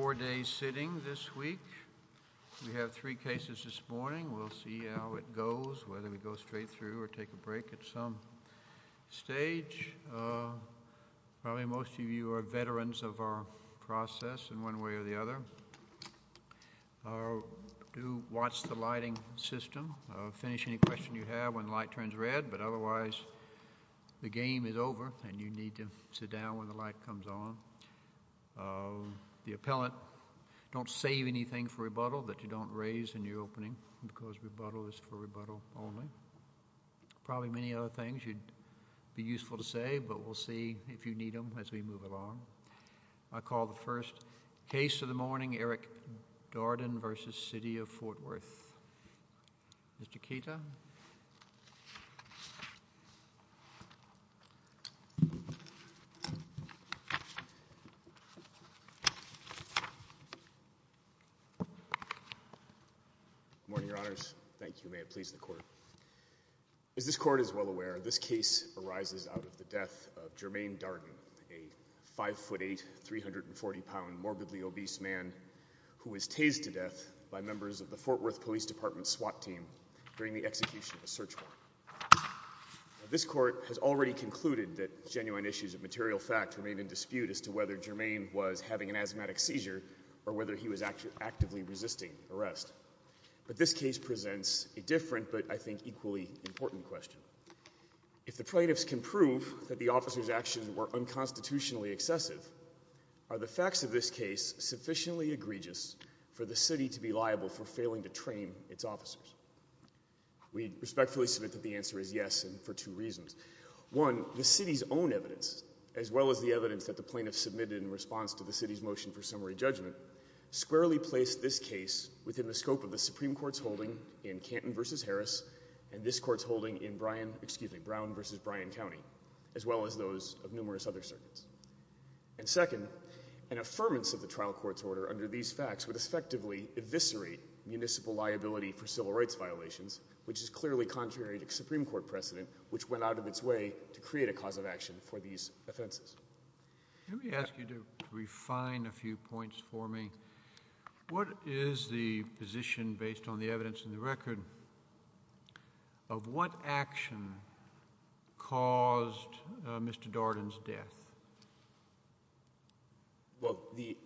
Four days sitting this week. We have three cases this morning. We'll see how it goes, whether we go straight through or take a break at some stage. Probably most of you are veterans of our process in one way or the other. Do watch the lighting system. Finish any questions you have when the light turns red, but otherwise the game is over and you need to sit down when the light comes on. The appellant, don't save anything for rebuttal that you don't raise in your opening because rebuttal is for rebuttal only. Probably many other things you'd be useful to say, but we'll see if you need them as we move along. I call the first case of the morning, Eric Darden v. City of Fort Worth. Mr. Keita? Good morning, Your Honors. Thank you. May it please the Court. As this Court is well aware, this case arises out of the death of Jermaine Darden, a 5'8", 340 pound morbidly obese man who was tased to death by members of the Fort Worth Police Department SWAT team during the execution of a search warrant. This Court has already concluded that genuine issues of material fact remain in dispute as to whether Jermaine was having an asthmatic seizure or whether he was actively resisting arrest. But this case presents a different but I think equally important question. If the plaintiffs can prove that the officers' actions were unconstitutionally excessive, are the facts of this case sufficiently egregious for the City to be liable for failing to train its officers? We respectfully submit that the answer is yes, and for two reasons. One, the City's own evidence, as well as the evidence that the plaintiffs submitted in response to the City's motion for summary judgment, squarely placed this case within the scope of the Supreme Court's holding in Canton v. Harris and this Court's holding in Brown v. Bryan County, as well as those of numerous other circuits. And second, an affirmance of the trial court's order under these facts would effectively eviscerate municipal liability for civil rights violations, which is clearly contrary to Supreme Court precedent, which went out of its way to create a cause of action for these offenses. Let me ask you to refine a few points for me. What is the position, based on the evidence in the record, of what action caused Mr. Darden's death? Well, the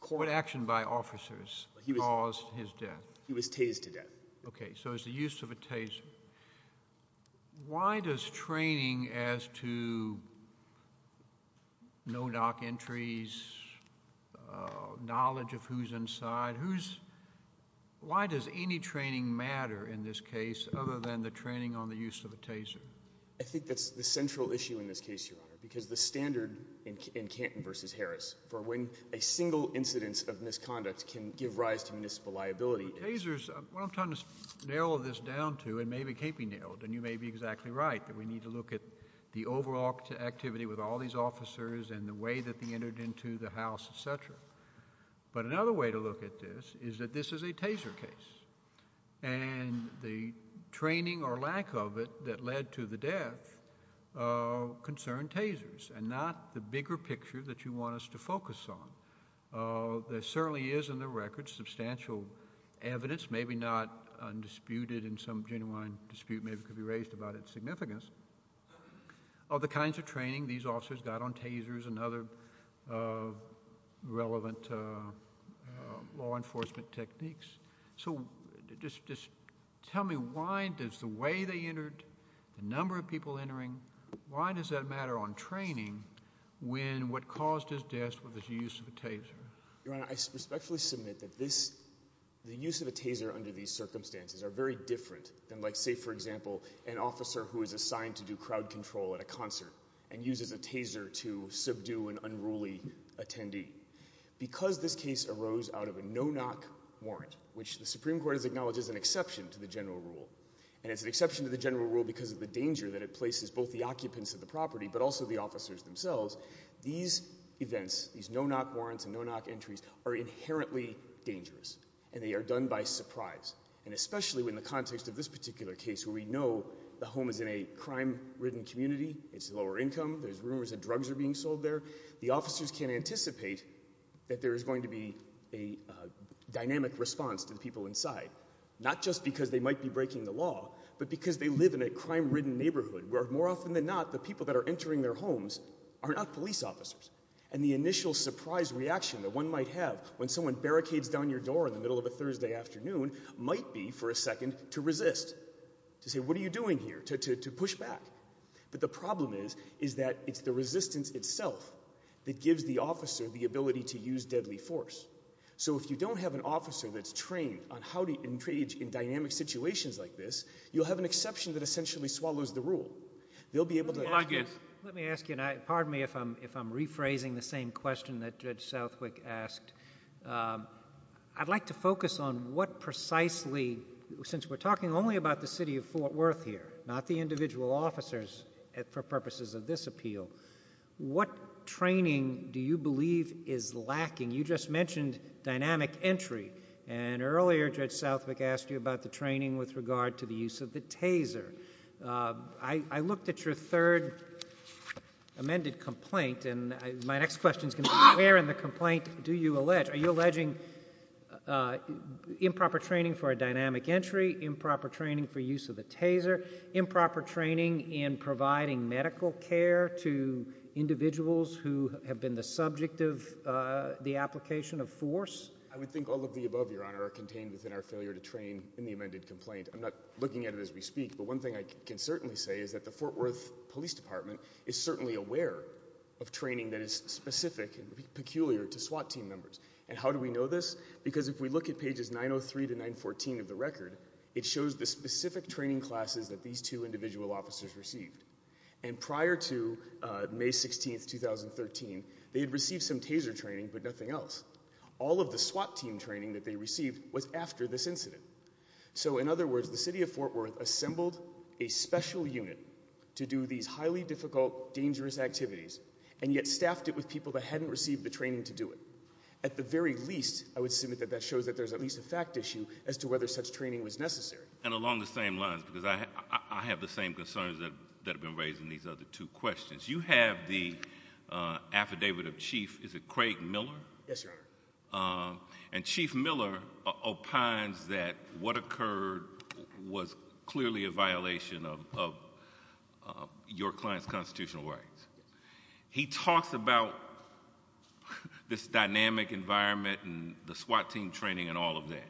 court... What action by officers caused his death? He was tased to death. Okay, so it was the use of a taser. Why does training as to no-knock entries, knowledge of who's inside, who's... why does any training matter in this case other than the training on the use of a taser? I think that's the central issue in this case, Your Honor, because the standard in Canton v. Harris for when a single incidence of misconduct can give rise to municipal liability... Well, tasers... what I'm trying to nail this down to, and maybe it can't be nailed, and you may be exactly right, that we need to look at the overall activity with all these officers and the way that they entered into the house, et cetera. But another way to look at this is that this is a taser case, and the training or lack of it that led to the death concerned tasers and not the bigger picture that you want us to focus on. There certainly is in the records substantial evidence, maybe not undisputed in some genuine dispute, maybe could be raised about its significance, of the kinds of training these officers got on tasers and other relevant law enforcement techniques. So, just tell me, why does the way they entered, the number of people entering, why does that matter on training when what caused his death was the use of a taser? Your Honor, I respectfully submit that this... the use of a taser under these circumstances are very different than like say, for example, an officer who is assigned to do crowd control at a concert and uses a taser to subdue an unruly attendee. Because this case arose out of a no-knock warrant, which the Supreme Court has acknowledged is an exception to the general rule. And it's an exception to the general rule because of the danger that it places both the occupants of the property but also the officers themselves. These events, these no-knock warrants and no-knock entries are inherently dangerous, and they are done by surprise. And especially in the context of this particular case, where we know the home is in a crime-ridden community, it's lower income, there's rumors that drugs are being sold there. The officers can anticipate that there is going to be a dynamic response to the people inside. Not just because they might be breaking the law, but because they live in a crime-ridden neighborhood, where more often than not, the people that are entering their homes are not police officers. And the initial surprise reaction that one might have when someone barricades down your door in the middle of a Thursday afternoon might be, for a second, to resist. To say, what are you doing here? To push back. But the problem is that it's the resistance itself that gives the officer the ability to use deadly force. So if you don't have an officer that's trained on how to engage in dynamic situations like this, you'll have an exception that essentially swallows the rule. Let me ask you, and pardon me if I'm rephrasing the same question that Judge Southwick asked. I'd like to focus on what precisely, since we're talking only about the city of Fort Worth here, not the individual officers for purposes of this appeal, what training do you believe is lacking? You just mentioned dynamic entry, and earlier Judge Southwick asked you about the training with regard to the use of the taser. I looked at your third amended complaint, and my next question is going to be, where in the complaint do you allege? Are you alleging improper training for a dynamic entry, improper training for use of the taser, improper training in providing medical care to individuals who have been the subject of the application of force? I would think all of the above, Your Honor, are contained within our failure to train in the amended complaint. I'm not looking at it as we speak, but one thing I can certainly say is that the Fort Worth Police Department is certainly aware of training that is specific and peculiar to SWAT team members. And how do we know this? Because if we look at pages 903 to 914 of the record, it shows the specific training classes that these two individual officers received. And prior to May 16, 2013, they had received some taser training, but nothing else. All of the SWAT team training that they received was after this incident. So in other words, the city of Fort Worth assembled a special unit to do these highly difficult, dangerous activities, and yet staffed it with people that hadn't received the training to do it. At the very least, I would submit that that shows that there's at least a fact issue as to whether such training was necessary. And along the same lines, because I have the same concerns that have been raised in these other two questions, you have the affidavit of Chief, is it Craig Miller? Yes, Your Honor. And Chief Miller opines that what occurred was clearly a violation of your client's constitutional rights. He talks about this dynamic environment and the SWAT team training and all of that.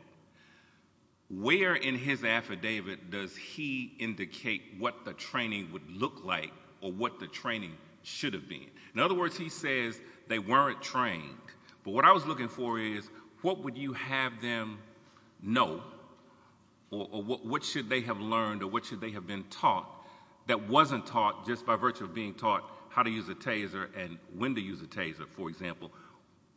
Where in his affidavit does he indicate what the training would look like or what the training should have been? In other words, he says they weren't trained. But what I was looking for is what would you have them know or what should they have learned or what should they have been taught that wasn't taught just by virtue of being taught how to use a taser and when to use a taser, for example?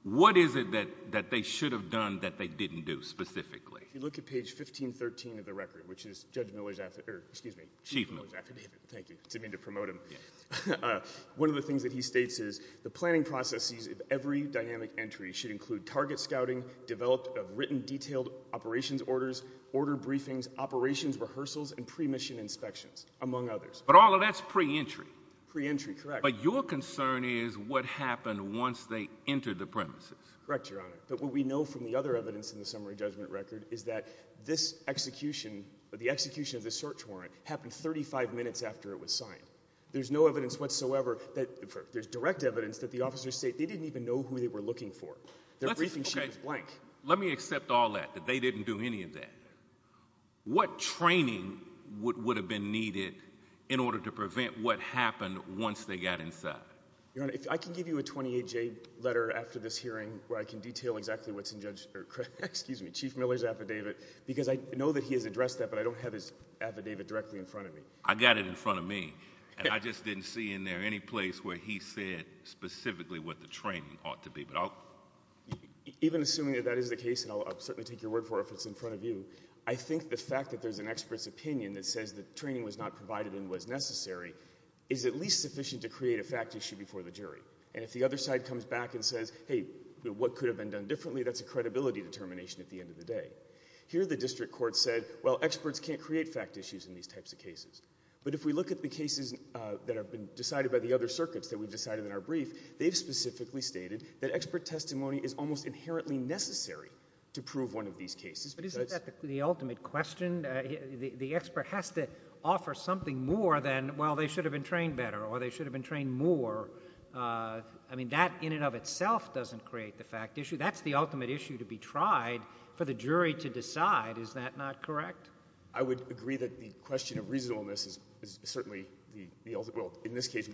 What is it that they should have done that they didn't do specifically? If you look at page 1513 of the record, which is Chief Miller's affidavit, thank you, to me to promote him. One of the things that he states is the planning processes of every dynamic entry should include target scouting, development of written detailed operations orders, order briefings, operations rehearsals, and pre-mission inspections, among others. But all of that's pre-entry. Pre-entry, correct. But your concern is what happened once they entered the premises. Correct, Your Honor. But what we know from the other evidence in the summary judgment record is that this execution, the execution of the search warrant, happened 35 minutes after it was signed. There's no evidence whatsoever that – there's direct evidence that the officers say they didn't even know who they were looking for. Their briefing sheet is blank. Let me accept all that, that they didn't do any of that. What training would have been needed in order to prevent what happened once they got inside? Your Honor, I can give you a 28-J letter after this hearing where I can detail exactly what's in Judge – excuse me, Chief Miller's affidavit, because I know that he has addressed that, but I don't have his affidavit directly in front of me. I've got it in front of me. And I just didn't see in there any place where he said specifically what the training ought to be. Even assuming that that is the case, and I'll certainly take your word for it if it's in front of you, I think the fact that there's an expert's opinion that says that training was not provided and was necessary is at least sufficient to create a fact issue before the jury. And if the other side comes back and says, hey, what could have been done differently, that's a credibility determination at the end of the day. Here the district court said, well, experts can't create fact issues in these types of cases. But if we look at the cases that have been decided by the other circuits that we've decided in our brief, they've specifically stated that expert testimony is almost inherently necessary to prove one of these cases. But isn't that the ultimate question? The expert has to offer something more than, well, they should have been trained better or they should have been trained more. I mean, that in and of itself doesn't create the fact issue. That's the ultimate issue to be tried for the jury to decide. Is that not correct? I would agree that the question of reasonableness is certainly the ultimate. Well, in this case,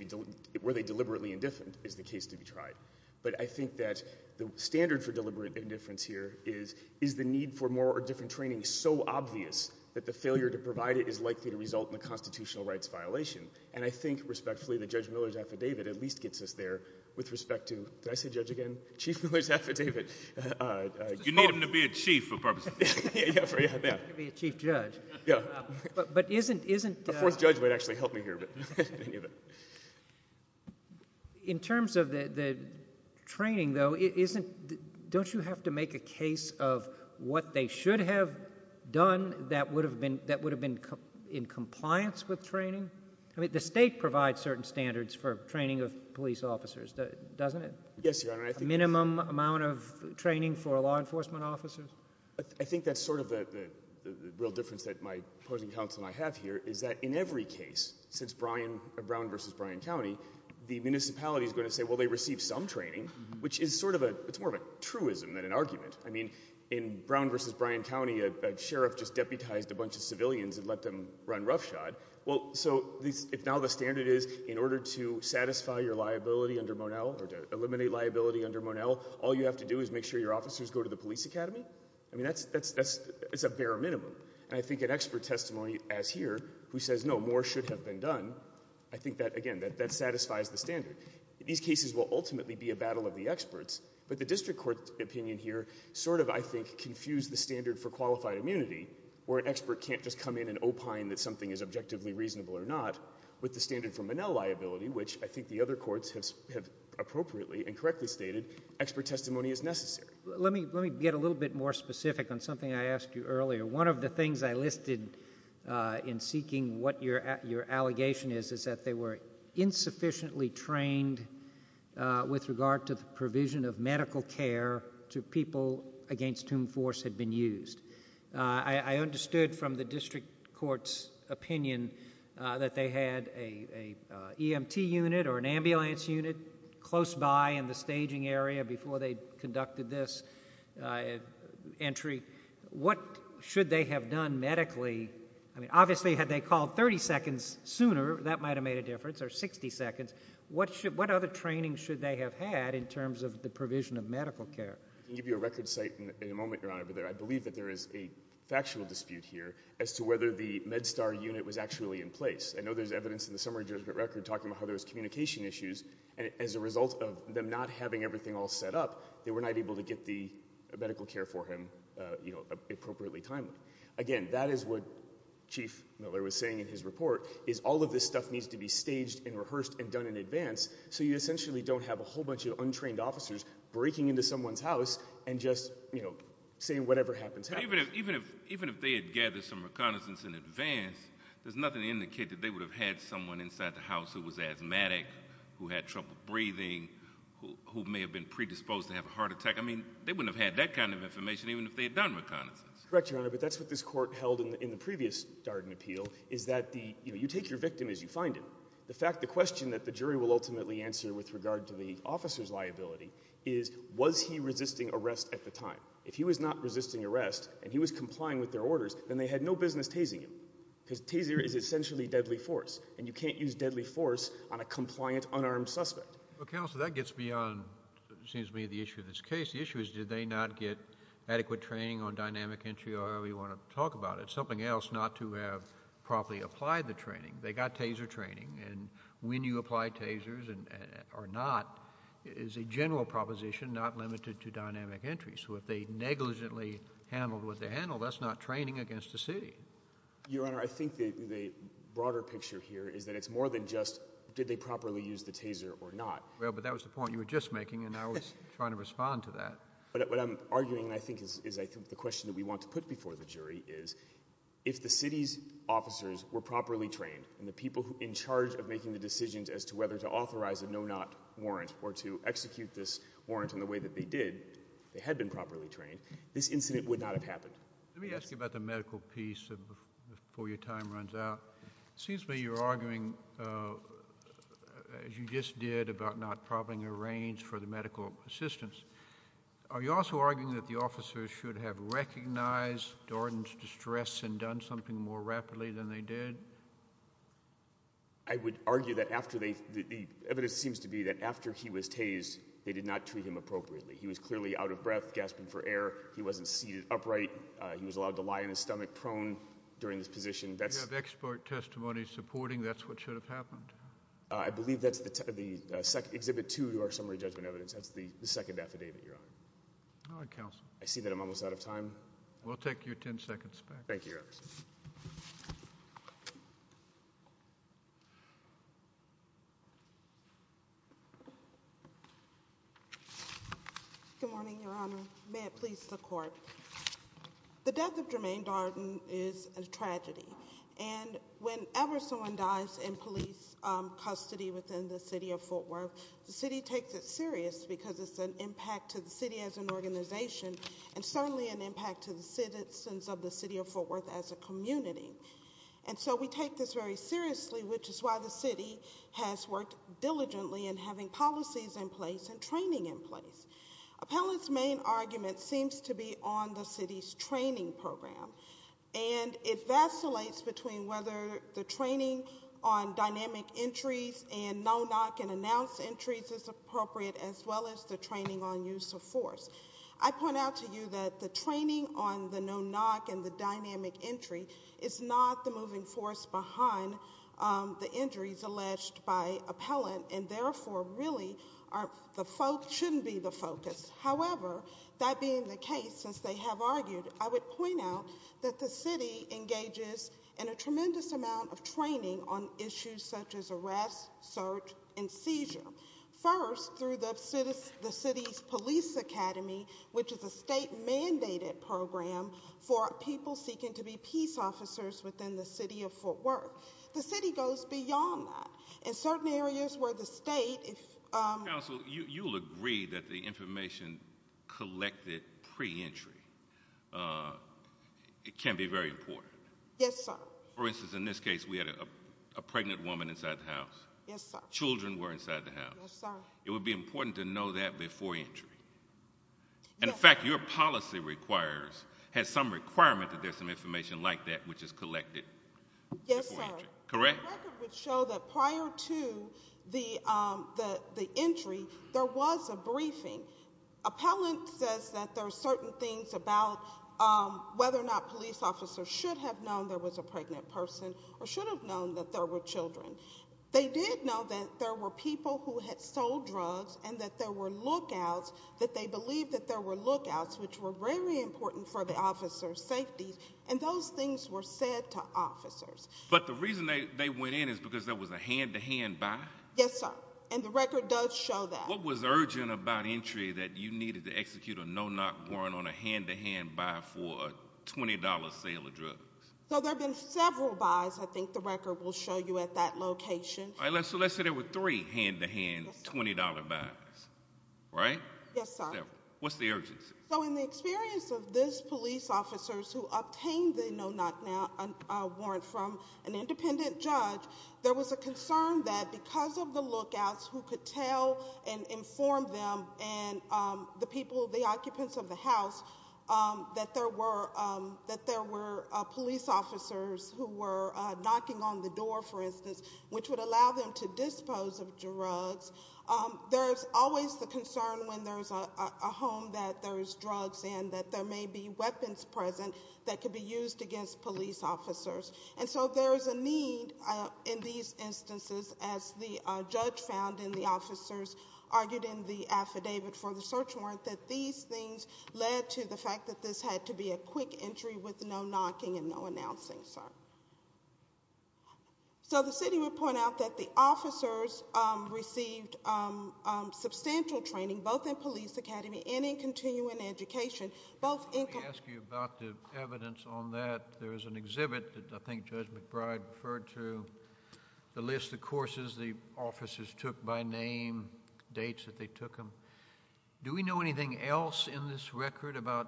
were they deliberately indifferent is the case to be tried. But I think that the standard for deliberate indifference here is, is the need for more or different training so obvious that the failure to provide it is likely to result in a constitutional rights violation? And I think respectfully that Judge Miller's affidavit at least gets us there with respect to – did I say judge again? Chief Miller's affidavit. You need him to be a chief for purposes. You need him to be a chief judge. Yeah. But isn't – A fourth judge would actually help me here. In terms of the training, though, don't you have to make a case of what they should have done that would have been in compliance with training? I mean, the state provides certain standards for training of police officers, doesn't it? Yes, Your Honor. Minimum amount of training for law enforcement officers? I think that's sort of the real difference that my opposing counsel and I have here is that in every case, since Brown v. Bryan County, the municipality is going to say, well, they received some training, which is sort of a – it's more of a truism than an argument. I mean, in Brown v. Bryan County, a sheriff just deputized a bunch of civilians and let them run roughshod. Well, so if now the standard is in order to satisfy your liability under Monell or to eliminate liability under Monell, all you have to do is make sure your officers go to the police academy? I mean, that's a bare minimum. And I think an expert testimony as here who says, no, more should have been done, I think that, again, that satisfies the standard. These cases will ultimately be a battle of the experts. But the district court opinion here sort of, I think, confused the standard for qualified immunity where an expert can't just come in and opine that something is objectively reasonable or not with the standard for Monell liability, which I think the other courts have appropriately and correctly stated expert testimony is necessary. Let me get a little bit more specific on something I asked you earlier. One of the things I listed in seeking what your allegation is is that they were insufficiently trained with regard to the provision of medical care to people against whom force had been used. I understood from the district court's opinion that they had an EMT unit or an ambulance unit close by in the staging area before they conducted this entry. What should they have done medically? I mean, obviously, had they called 30 seconds sooner, that might have made a difference, or 60 seconds. What other training should they have had in terms of the provision of medical care? I can give you a record site in a moment, Your Honor. I believe that there is a factual dispute here as to whether the MedStar unit was actually in place. I know there's evidence in the summary judgment record talking about how there was communication issues, and as a result of them not having everything all set up, they were not able to get the medical care for him appropriately timely. Again, that is what Chief Miller was saying in his report, is all of this stuff needs to be staged and rehearsed and done in advance so you essentially don't have a whole bunch of untrained officers breaking into someone's house and just saying whatever happens happens. Even if they had gathered some reconnaissance in advance, there's nothing to indicate that they would have had someone inside the house who was asthmatic, who had trouble breathing, who may have been predisposed to have a heart attack. I mean, they wouldn't have had that kind of information even if they had done reconnaissance. Correct, Your Honor, but that's what this court held in the previous Darden appeal, is that you take your victim as you find him. The question that the jury will ultimately answer with regard to the officer's liability is, was he resisting arrest at the time? If he was not resisting arrest and he was complying with their orders, then they had no business tasing him, because taser is essentially deadly force, and you can't use deadly force on a compliant, unarmed suspect. Well, Counselor, that gets beyond, it seems to me, the issue of this case. The issue is, did they not get adequate training on dynamic entry or however you want to talk about it? Something else not to have properly applied the training. They got taser training, and when you apply tasers or not is a general proposition not limited to dynamic entry. So if they negligently handled what they handled, that's not training against the city. Your Honor, I think the broader picture here is that it's more than just did they properly use the taser or not. Well, but that was the point you were just making, and I was trying to respond to that. What I'm arguing, I think, is I think the question that we want to put before the jury is, if the city's officers were properly trained and the people in charge of making the decisions as to whether to authorize a no-not warrant or to execute this warrant in the way that they did, they had been properly trained, this incident would not have happened. Let me ask you about the medical piece before your time runs out. It seems to me you're arguing, as you just did, about not properly arranged for the medical assistance. Are you also arguing that the officers should have recognized Dorden's distress and done something more rapidly than they did? I would argue that after they—the evidence seems to be that after he was tased, they did not treat him appropriately. He was clearly out of breath, gasping for air. He wasn't seated upright. He was allowed to lie on his stomach prone during this position. You have expert testimony supporting that's what should have happened. I believe that's the—exhibit two to our summary judgment evidence. That's the second affidavit, Your Honor. All right, counsel. I see that I'm almost out of time. We'll take your 10 seconds back. Thank you, Your Honor. Good morning, Your Honor. May it please the Court. The death of Jermaine Dorden is a tragedy. And whenever someone dies in police custody within the city of Fort Worth, the city takes it serious because it's an impact to the city as an organization and certainly an impact to the citizens of the city of Fort Worth as a community. And so we take this very seriously, which is why the city has worked diligently in having policies in place and training in place. Appellant's main argument seems to be on the city's training program. And it vacillates between whether the training on dynamic entries and no-knock and announced entries is appropriate as well as the training on use of force. I point out to you that the training on the no-knock and the dynamic entry is not the moving force behind the injuries alleged by appellant and therefore really shouldn't be the focus. However, that being the case, since they have argued, I would point out that the city engages in a tremendous amount of training on issues such as arrest, search, and seizure. First, through the city's police academy, which is a state-mandated program for people seeking to be peace officers within the city of Fort Worth. The city goes beyond that. In certain areas where the state— Counsel, you'll agree that the information collected pre-entry can be very important. Yes, sir. For instance, in this case, we had a pregnant woman inside the house. Yes, sir. Children were inside the house. Yes, sir. It would be important to know that before entry. Yes. And, in fact, your policy requires—has some requirement that there's some information like that which is collected before entry. Yes, sir. Correct? The record would show that prior to the entry, there was a briefing. Appellant says that there are certain things about whether or not police officers should have known there was a pregnant person or should have known that there were children. They did know that there were people who had sold drugs and that there were lookouts, that they believed that there were lookouts, which were very important for the officer's safety. And those things were said to officers. But the reason they went in is because there was a hand-to-hand buy? Yes, sir. And the record does show that. What was urgent about entry that you needed to execute a no-knock warrant on a hand-to-hand buy for a $20 sale of drugs? So, there have been several buys. I think the record will show you at that location. So, let's say there were three hand-to-hand $20 buys. Right? Yes, sir. What's the urgency? So, in the experience of these police officers who obtained the no-knock warrant from an independent judge, there was a concern that because of the lookouts who could tell and inform them and the people, the occupants of the house, that there were police officers who were knocking on the door, for instance, which would allow them to dispose of drugs. There's always the concern when there's a home that there's drugs and that there may be weapons present that could be used against police officers. And so, there's a need in these instances, as the judge found in the officers argued in the affidavit for the search warrant, that these things led to the fact that this had to be a quick entry with no knocking and no announcing, sir. So, the city would point out that the officers received substantial training, both in police academy and in continuing education. Let me ask you about the evidence on that. There is an exhibit that I think Judge McBride referred to, the list of courses the officers took by name, dates that they took them. Do we know anything else in this record about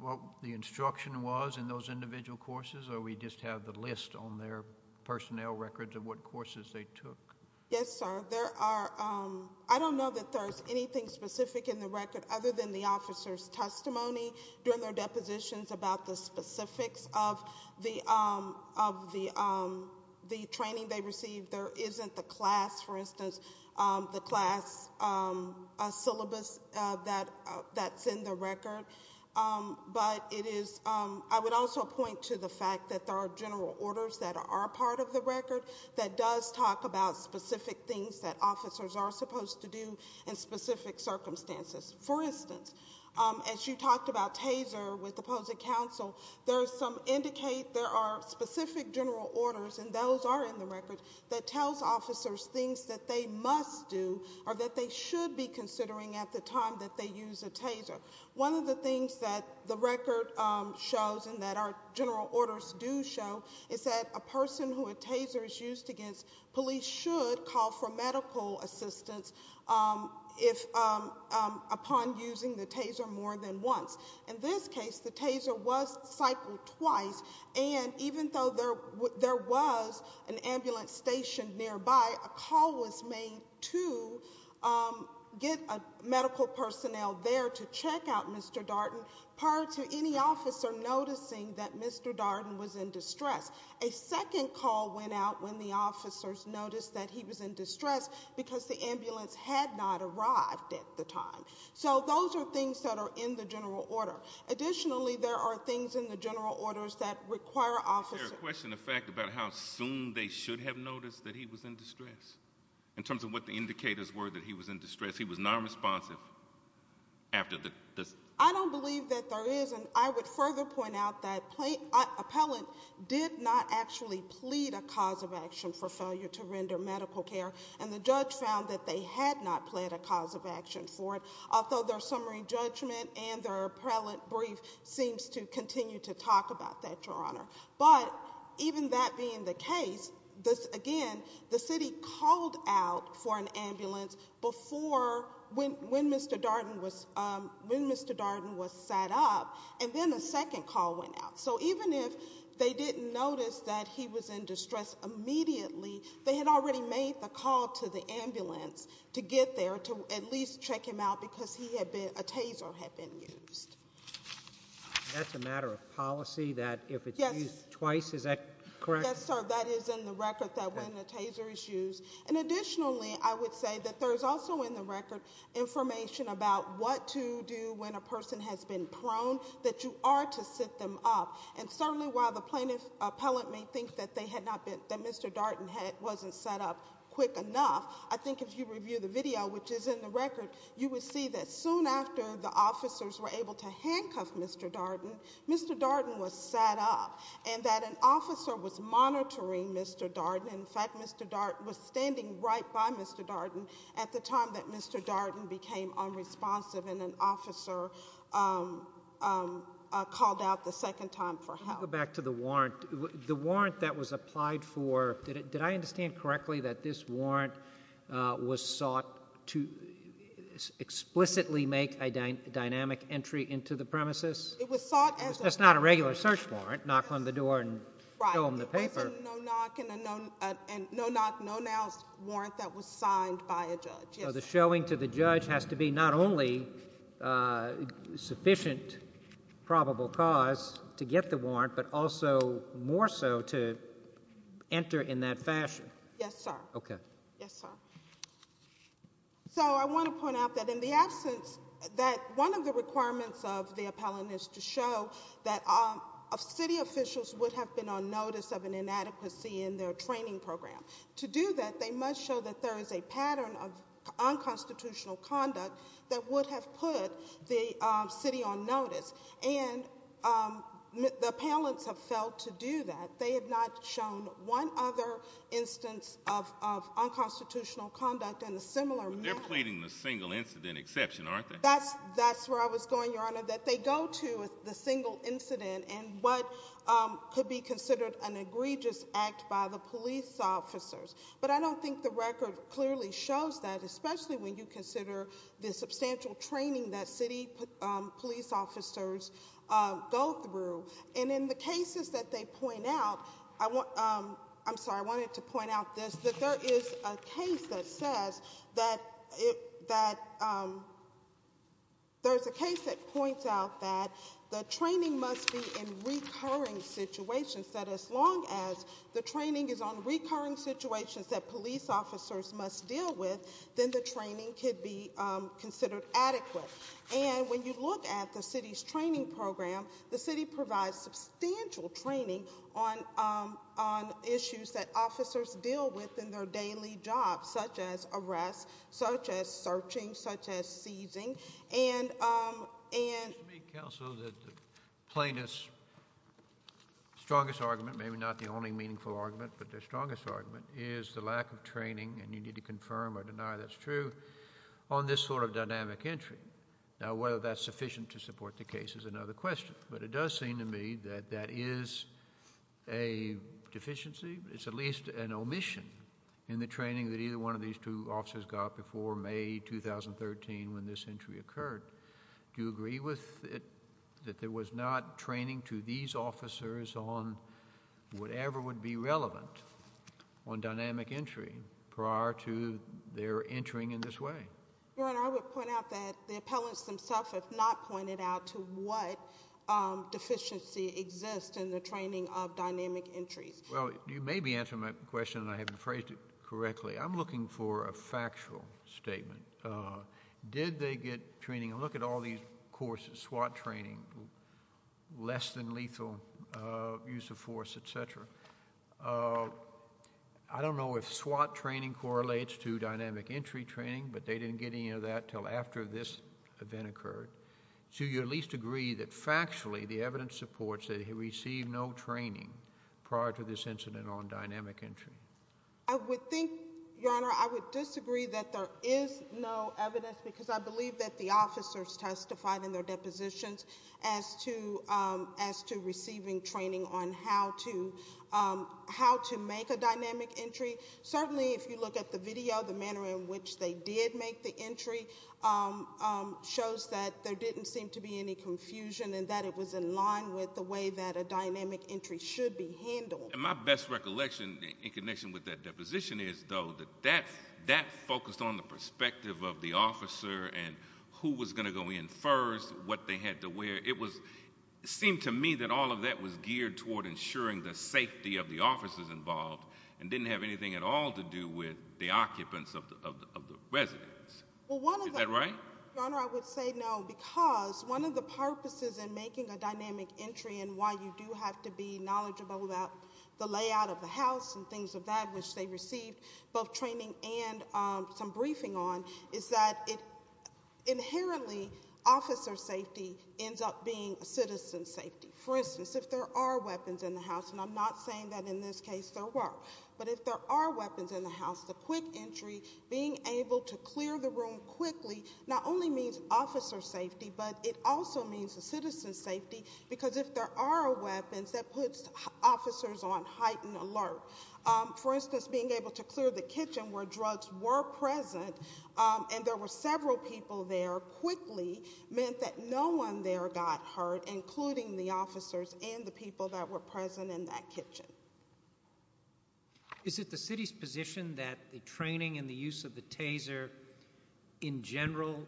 what the instruction was in those individual courses, or we just have the list on their personnel records of what courses they took? Yes, sir. There are, I don't know that there's anything specific in the record other than the officers' testimony during their depositions about the specifics of the training they received. There isn't the class, for instance, the class syllabus that's in the record. But it is, I would also point to the fact that there are general orders that are part of the record that does talk about specific things that officers are supposed to do in specific circumstances. For instance, as you talked about TASER with opposing counsel, there are some indicate there are specific general orders, and those are in the record, that tells officers things that they must do or that they should be considering at the time that they use a TASER. One of the things that the record shows and that our general orders do show is that a person who a TASER is used against, police should call for medical assistance upon using the TASER more than once. In this case, the TASER was cycled twice, and even though there was an ambulance stationed nearby, a call was made to get medical personnel there to check out Mr. Darden prior to any officer noticing that Mr. Darden was in distress. A second call went out when the officers noticed that he was in distress because the ambulance had not arrived at the time. So those are things that are in the general order. Additionally, there are things in the general orders that require officers- In terms of what the indicators were that he was in distress, he was nonresponsive after the- I don't believe that there is, and I would further point out that an appellant did not actually plead a cause of action for failure to render medical care, and the judge found that they had not plead a cause of action for it, although their summary judgment and their appellant brief seems to continue to talk about that, Your Honor. But even that being the case, again, the city called out for an ambulance when Mr. Darden was sat up, and then a second call went out. So even if they didn't notice that he was in distress immediately, they had already made the call to the ambulance to get there to at least check him out because a TASER had been used. That's a matter of policy that if it's used twice, is that correct? Yes, sir. That is in the record that when a TASER is used. And additionally, I would say that there is also in the record information about what to do when a person has been prone, that you are to sit them up. And certainly while the plaintiff appellant may think that Mr. Darden wasn't sat up quick enough, I think if you review the video, which is in the record, you would see that soon after the officers were able to handcuff Mr. Darden, Mr. Darden was sat up, and that an officer was monitoring Mr. Darden. In fact, Mr. Darden was standing right by Mr. Darden at the time that Mr. Darden became unresponsive, and an officer called out the second time for help. I'll go back to the warrant. The warrant that was applied for, did I understand correctly that this warrant was sought to explicitly make a dynamic entry into the premises? It was sought as a- That's not a regular search warrant, knock on the door and show them the paper. Right, it was a no-knock, no-knows warrant that was signed by a judge, yes. So the showing to the judge has to be not only sufficient probable cause to get the warrant, but also more so to enter in that fashion. Yes, sir. Okay. Yes, sir. So I want to point out that in the absence that one of the requirements of the appellant is to show that city officials would have been on notice of an inadequacy in their training program. To do that, they must show that there is a pattern of unconstitutional conduct that would have put the city on notice. And the appellants have failed to do that. They have not shown one other instance of unconstitutional conduct in a similar manner. But they're pleading the single incident exception, aren't they? That's where I was going, Your Honor, that they go to the single incident and what could be considered an egregious act by the police officers. But I don't think the record clearly shows that, especially when you consider the substantial training that city police officers go through. And in the cases that they point out, I'm sorry, I wanted to point out this, that there is a case that says that there's a case that points out that the training must be in recurring situations. That as long as the training is on recurring situations that police officers must deal with, then the training could be considered adequate. And when you look at the city's training program, the city provides substantial training on issues that officers deal with in their daily jobs, such as arrests, such as searching, such as seizing. And- It seems to me, Counsel, that the plaintiff's strongest argument, maybe not the only meaningful argument, but their strongest argument is the lack of training, and you need to confirm or deny that's true, on this sort of dynamic entry. Now whether that's sufficient to support the case is another question. But it does seem to me that that is a deficiency. It's at least an omission in the training that either one of these two officers got before May 2013 when this entry occurred. Do you agree with it, that there was not training to these officers on whatever would be relevant on dynamic entry prior to their entering in this way? Your Honor, I would point out that the appellants themselves have not pointed out to what deficiency exists in the training of dynamic entries. Well, you may be answering my question, and I have phrased it correctly. I'm looking for a factual statement. Did they get training? Look at all these courses, SWAT training, less than lethal use of force, et cetera. I don't know if SWAT training correlates to dynamic entry training, but they didn't get any of that until after this event occurred. Do you at least agree that factually the evidence supports that he received no training prior to this incident on dynamic entry? I would think, Your Honor, I would disagree that there is no evidence, because I believe that the officers testified in their depositions as to receiving training on how to make a dynamic entry. Certainly, if you look at the video, the manner in which they did make the entry shows that there didn't seem to be any confusion and that it was in line with the way that a dynamic entry should be handled. My best recollection in connection with that deposition is, though, that that focused on the perspective of the officer and who was going to go in first, what they had to wear. It seemed to me that all of that was geared toward ensuring the safety of the officers involved and didn't have anything at all to do with the occupants of the residence. Is that right? Your Honor, I would say no, because one of the purposes in making a dynamic entry and why you do have to be knowledgeable about the layout of the house and things of that, which they received both training and some briefing on, is that inherently officer safety ends up being citizen safety. For instance, if there are weapons in the house, and I'm not saying that in this case there weren't, but if there are weapons in the house, the quick entry, being able to clear the room quickly, not only means officer safety, but it also means the citizen's safety, because if there are weapons, that puts officers on heightened alert. For instance, being able to clear the kitchen where drugs were present and there were several people there quickly meant that no one there got hurt, including the officers and the people that were present in that kitchen. Is it the city's position that the training and the use of the TASER in general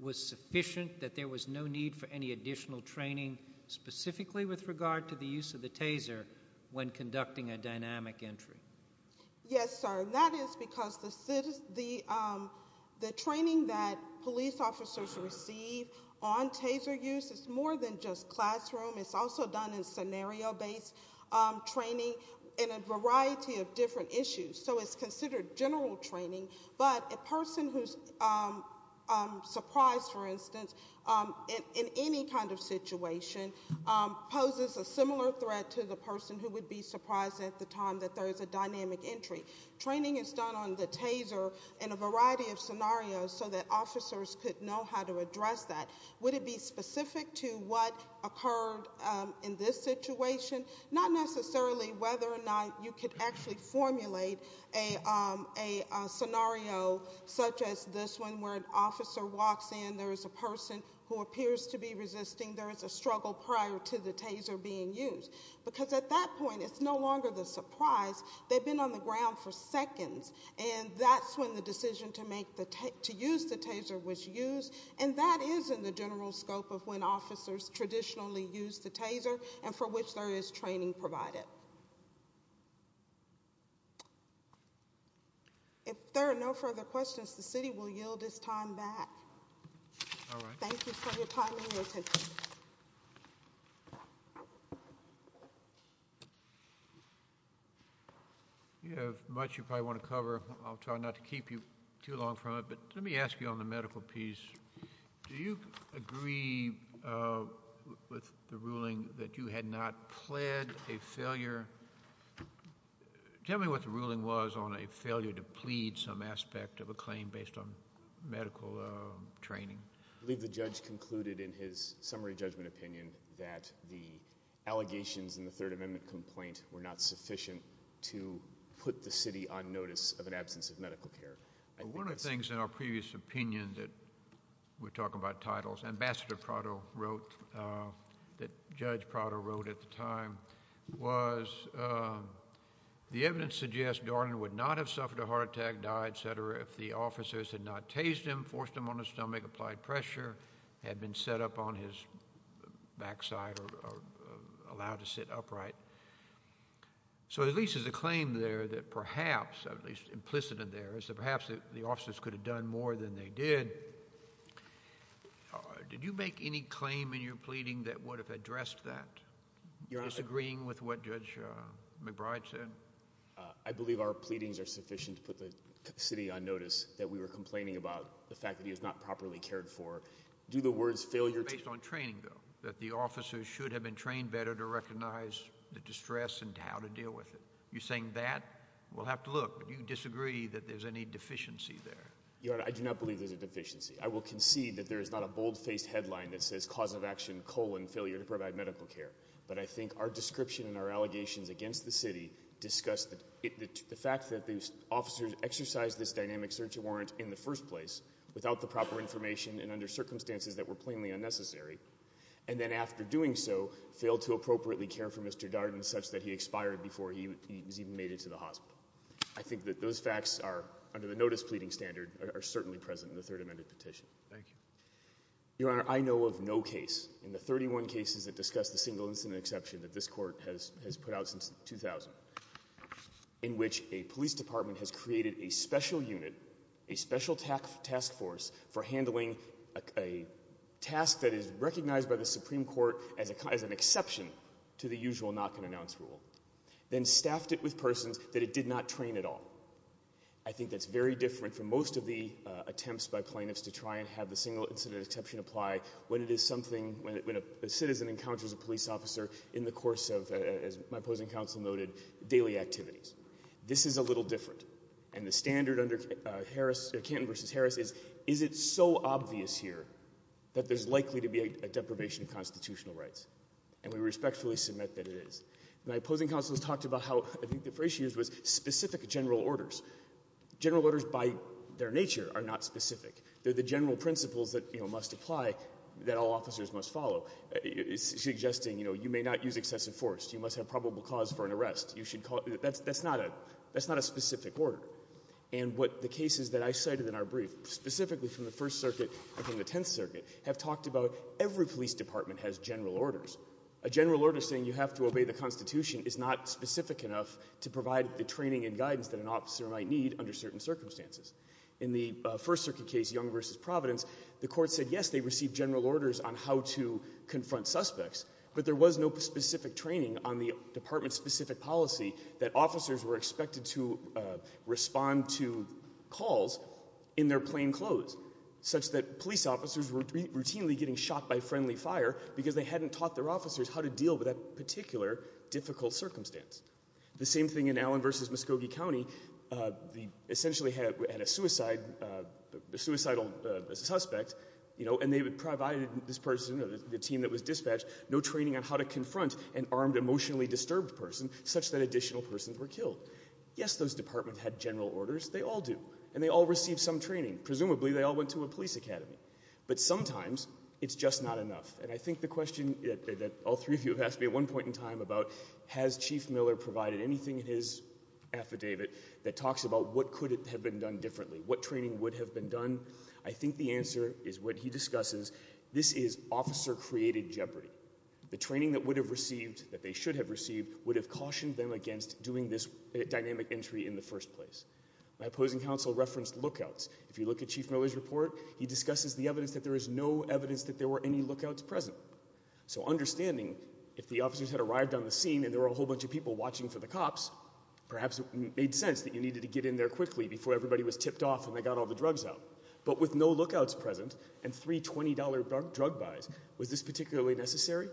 was sufficient, that there was no need for any additional training specifically with regard to the use of the TASER when conducting a dynamic entry? Yes, sir, and that is because the training that police officers receive on TASER use is more than just classroom, it's also done in scenario-based training in a variety of different issues. So it's considered general training, but a person who's surprised, for instance, in any kind of situation poses a similar threat to the person who would be surprised at the time that there is a dynamic entry. Training is done on the TASER in a variety of scenarios so that officers could know how to address that. Would it be specific to what occurred in this situation? Not necessarily whether or not you could actually formulate a scenario such as this one where an officer walks in, there is a person who appears to be resisting, there is a struggle prior to the TASER being used. Because at that point, it's no longer the surprise. They've been on the ground for seconds, and that's when the decision to use the TASER was used, and that is in the general scope of when officers traditionally use the TASER and for which there is training provided. If there are no further questions, the city will yield its time back. Thank you for your time and attention. You have much you probably want to cover. I'll try not to keep you too long from it, but let me ask you on the medical piece. Do you agree with the ruling that you had not pled a failure? Tell me what the ruling was on a failure to plead some aspect of a claim based on medical training. I believe the judge concluded in his summary judgment opinion that the allegations in the Third Amendment complaint were not sufficient to put the city on notice of an absence of medical care. One of the things in our previous opinion that we're talking about titles, Ambassador Prado wrote, that Judge Prado wrote at the time, was the evidence suggests Darlene would not have suffered a heart attack, died, et cetera, if the officers had not tased him, forced him on his stomach, applied pressure, had been set up on his backside or allowed to sit upright. So at least there's a claim there that perhaps, at least implicit in there, is that perhaps the officers could have done more than they did. Did you make any claim in your pleading that would have addressed that, disagreeing with what Judge McBride said? I believe our pleadings are sufficient to put the city on notice that we were complaining about the fact that he was not properly cared for. Do the words failure— Based on training, though, that the officers should have been trained better to recognize the distress and how to deal with it. You're saying that? We'll have to look. Do you disagree that there's any deficiency there? Your Honor, I do not believe there's a deficiency. I will concede that there is not a bold-faced headline that says, cause of action, colon, failure to provide medical care. But I think our description and our allegations against the city discuss the fact that the officers exercised this dynamic search warrant in the first place without the proper information and under circumstances that were plainly unnecessary, and then after doing so, failed to appropriately care for Mr. Darden such that he expired before he was even made into the hospital. I think that those facts are, under the notice pleading standard, are certainly present in the Third Amendment petition. Thank you. Your Honor, I know of no case in the 31 cases that discuss the single incident exception that this Court has put out since 2000, in which a police department has created a special unit, a special task force for handling a task that is recognized by the Supreme Court as an exception to the usual knock-and-announce rule, then staffed it with persons that it did not train at all. I think that's very different from most of the attempts by plaintiffs to try and have the single incident exception apply when a citizen encounters a police officer in the course of, as my opposing counsel noted, daily activities. This is a little different. And the standard under Canton v. Harris is, is it so obvious here that there's likely to be a deprivation of constitutional rights? And we respectfully submit that it is. My opposing counsel has talked about how, I think the phrase she used was, specific general orders. General orders by their nature are not specific. They're the general principles that must apply, that all officers must follow, suggesting you may not use excessive force, you must have probable cause for an arrest. That's not a specific order. And the cases that I cited in our brief, specifically from the First Circuit and from the Tenth Circuit, have talked about every police department has general orders. A general order saying you have to obey the Constitution is not specific enough to provide the training and guidance that an officer might need under certain circumstances. In the First Circuit case, Young v. Providence, the court said yes, they received general orders on how to confront suspects, but there was no specific training on the department's specific policy that officers were expected to respond to calls in their plain clothes, such that police officers were routinely getting shot by friendly fire because they hadn't taught their officers how to deal with that particular difficult circumstance. The same thing in Allen v. Muskogee County. They essentially had a suicidal suspect, and they provided this person, the team that was dispatched, no training on how to confront an armed, emotionally disturbed person such that additional persons were killed. Yes, those departments had general orders. They all do, and they all received some training. Presumably, they all went to a police academy. But sometimes it's just not enough. And I think the question that all three of you have asked me at one point in time about has Chief Miller provided anything in his affidavit that talks about what could have been done differently, what training would have been done? I think the answer is what he discusses. This is officer-created jeopardy. The training that they should have received would have cautioned them against doing this dynamic entry in the first place. My opposing counsel referenced lookouts. If you look at Chief Miller's report, he discusses the evidence that there is no evidence that there were any lookouts present. So understanding if the officers had arrived on the scene and there were a whole bunch of people watching for the cops, perhaps it made sense that you needed to get in there quickly before everybody was tipped off and they got all the drugs out. But with no lookouts present and three $20 drug buys, was this particularly necessary?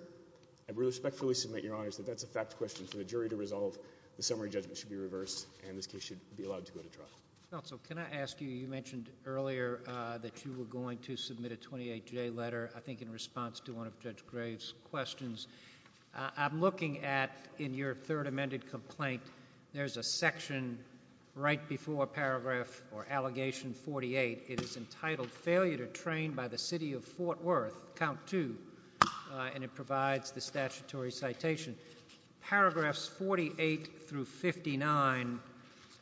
I will respectfully submit, Your Honors, that that's a fact question for the jury to resolve. The summary judgment should be reversed, and this case should be allowed to go to trial. Counsel, can I ask you, you mentioned earlier that you were going to submit a 28-J letter, I think in response to one of Judge Graves' questions. I'm looking at, in your third amended complaint, there's a section right before Paragraph or Allegation 48. It is entitled Failure to Train by the City of Fort Worth, Count 2, and it provides the statutory citation. Paragraphs 48 through 59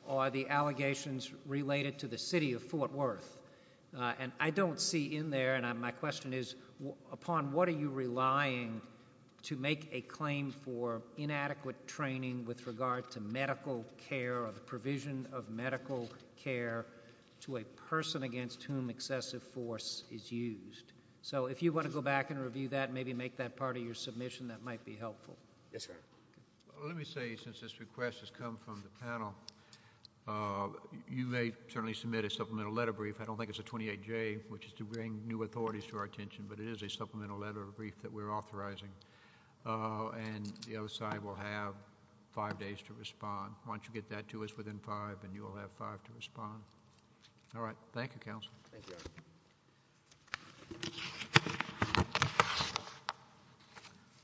are the allegations related to the City of Fort Worth. And I don't see in there, and my question is, upon what are you relying to make a claim for inadequate training with regard to medical care or the provision of medical care to a person against whom excessive force is used? So if you want to go back and review that and maybe make that part of your submission, that might be helpful. Yes, sir. Let me say, since this request has come from the panel, you may certainly submit a supplemental letter brief. I don't think it's a 28-J, which is to bring new authorities to our attention, but it is a supplemental letter brief that we're authorizing. And the other side will have five days to respond. Why don't you get that to us within five, and you will have five to respond. All right. Thank you, Counsel. Thank you. I'll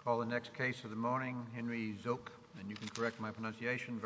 call the next case of the morning, Henry Zook. And you can correct my pronunciation.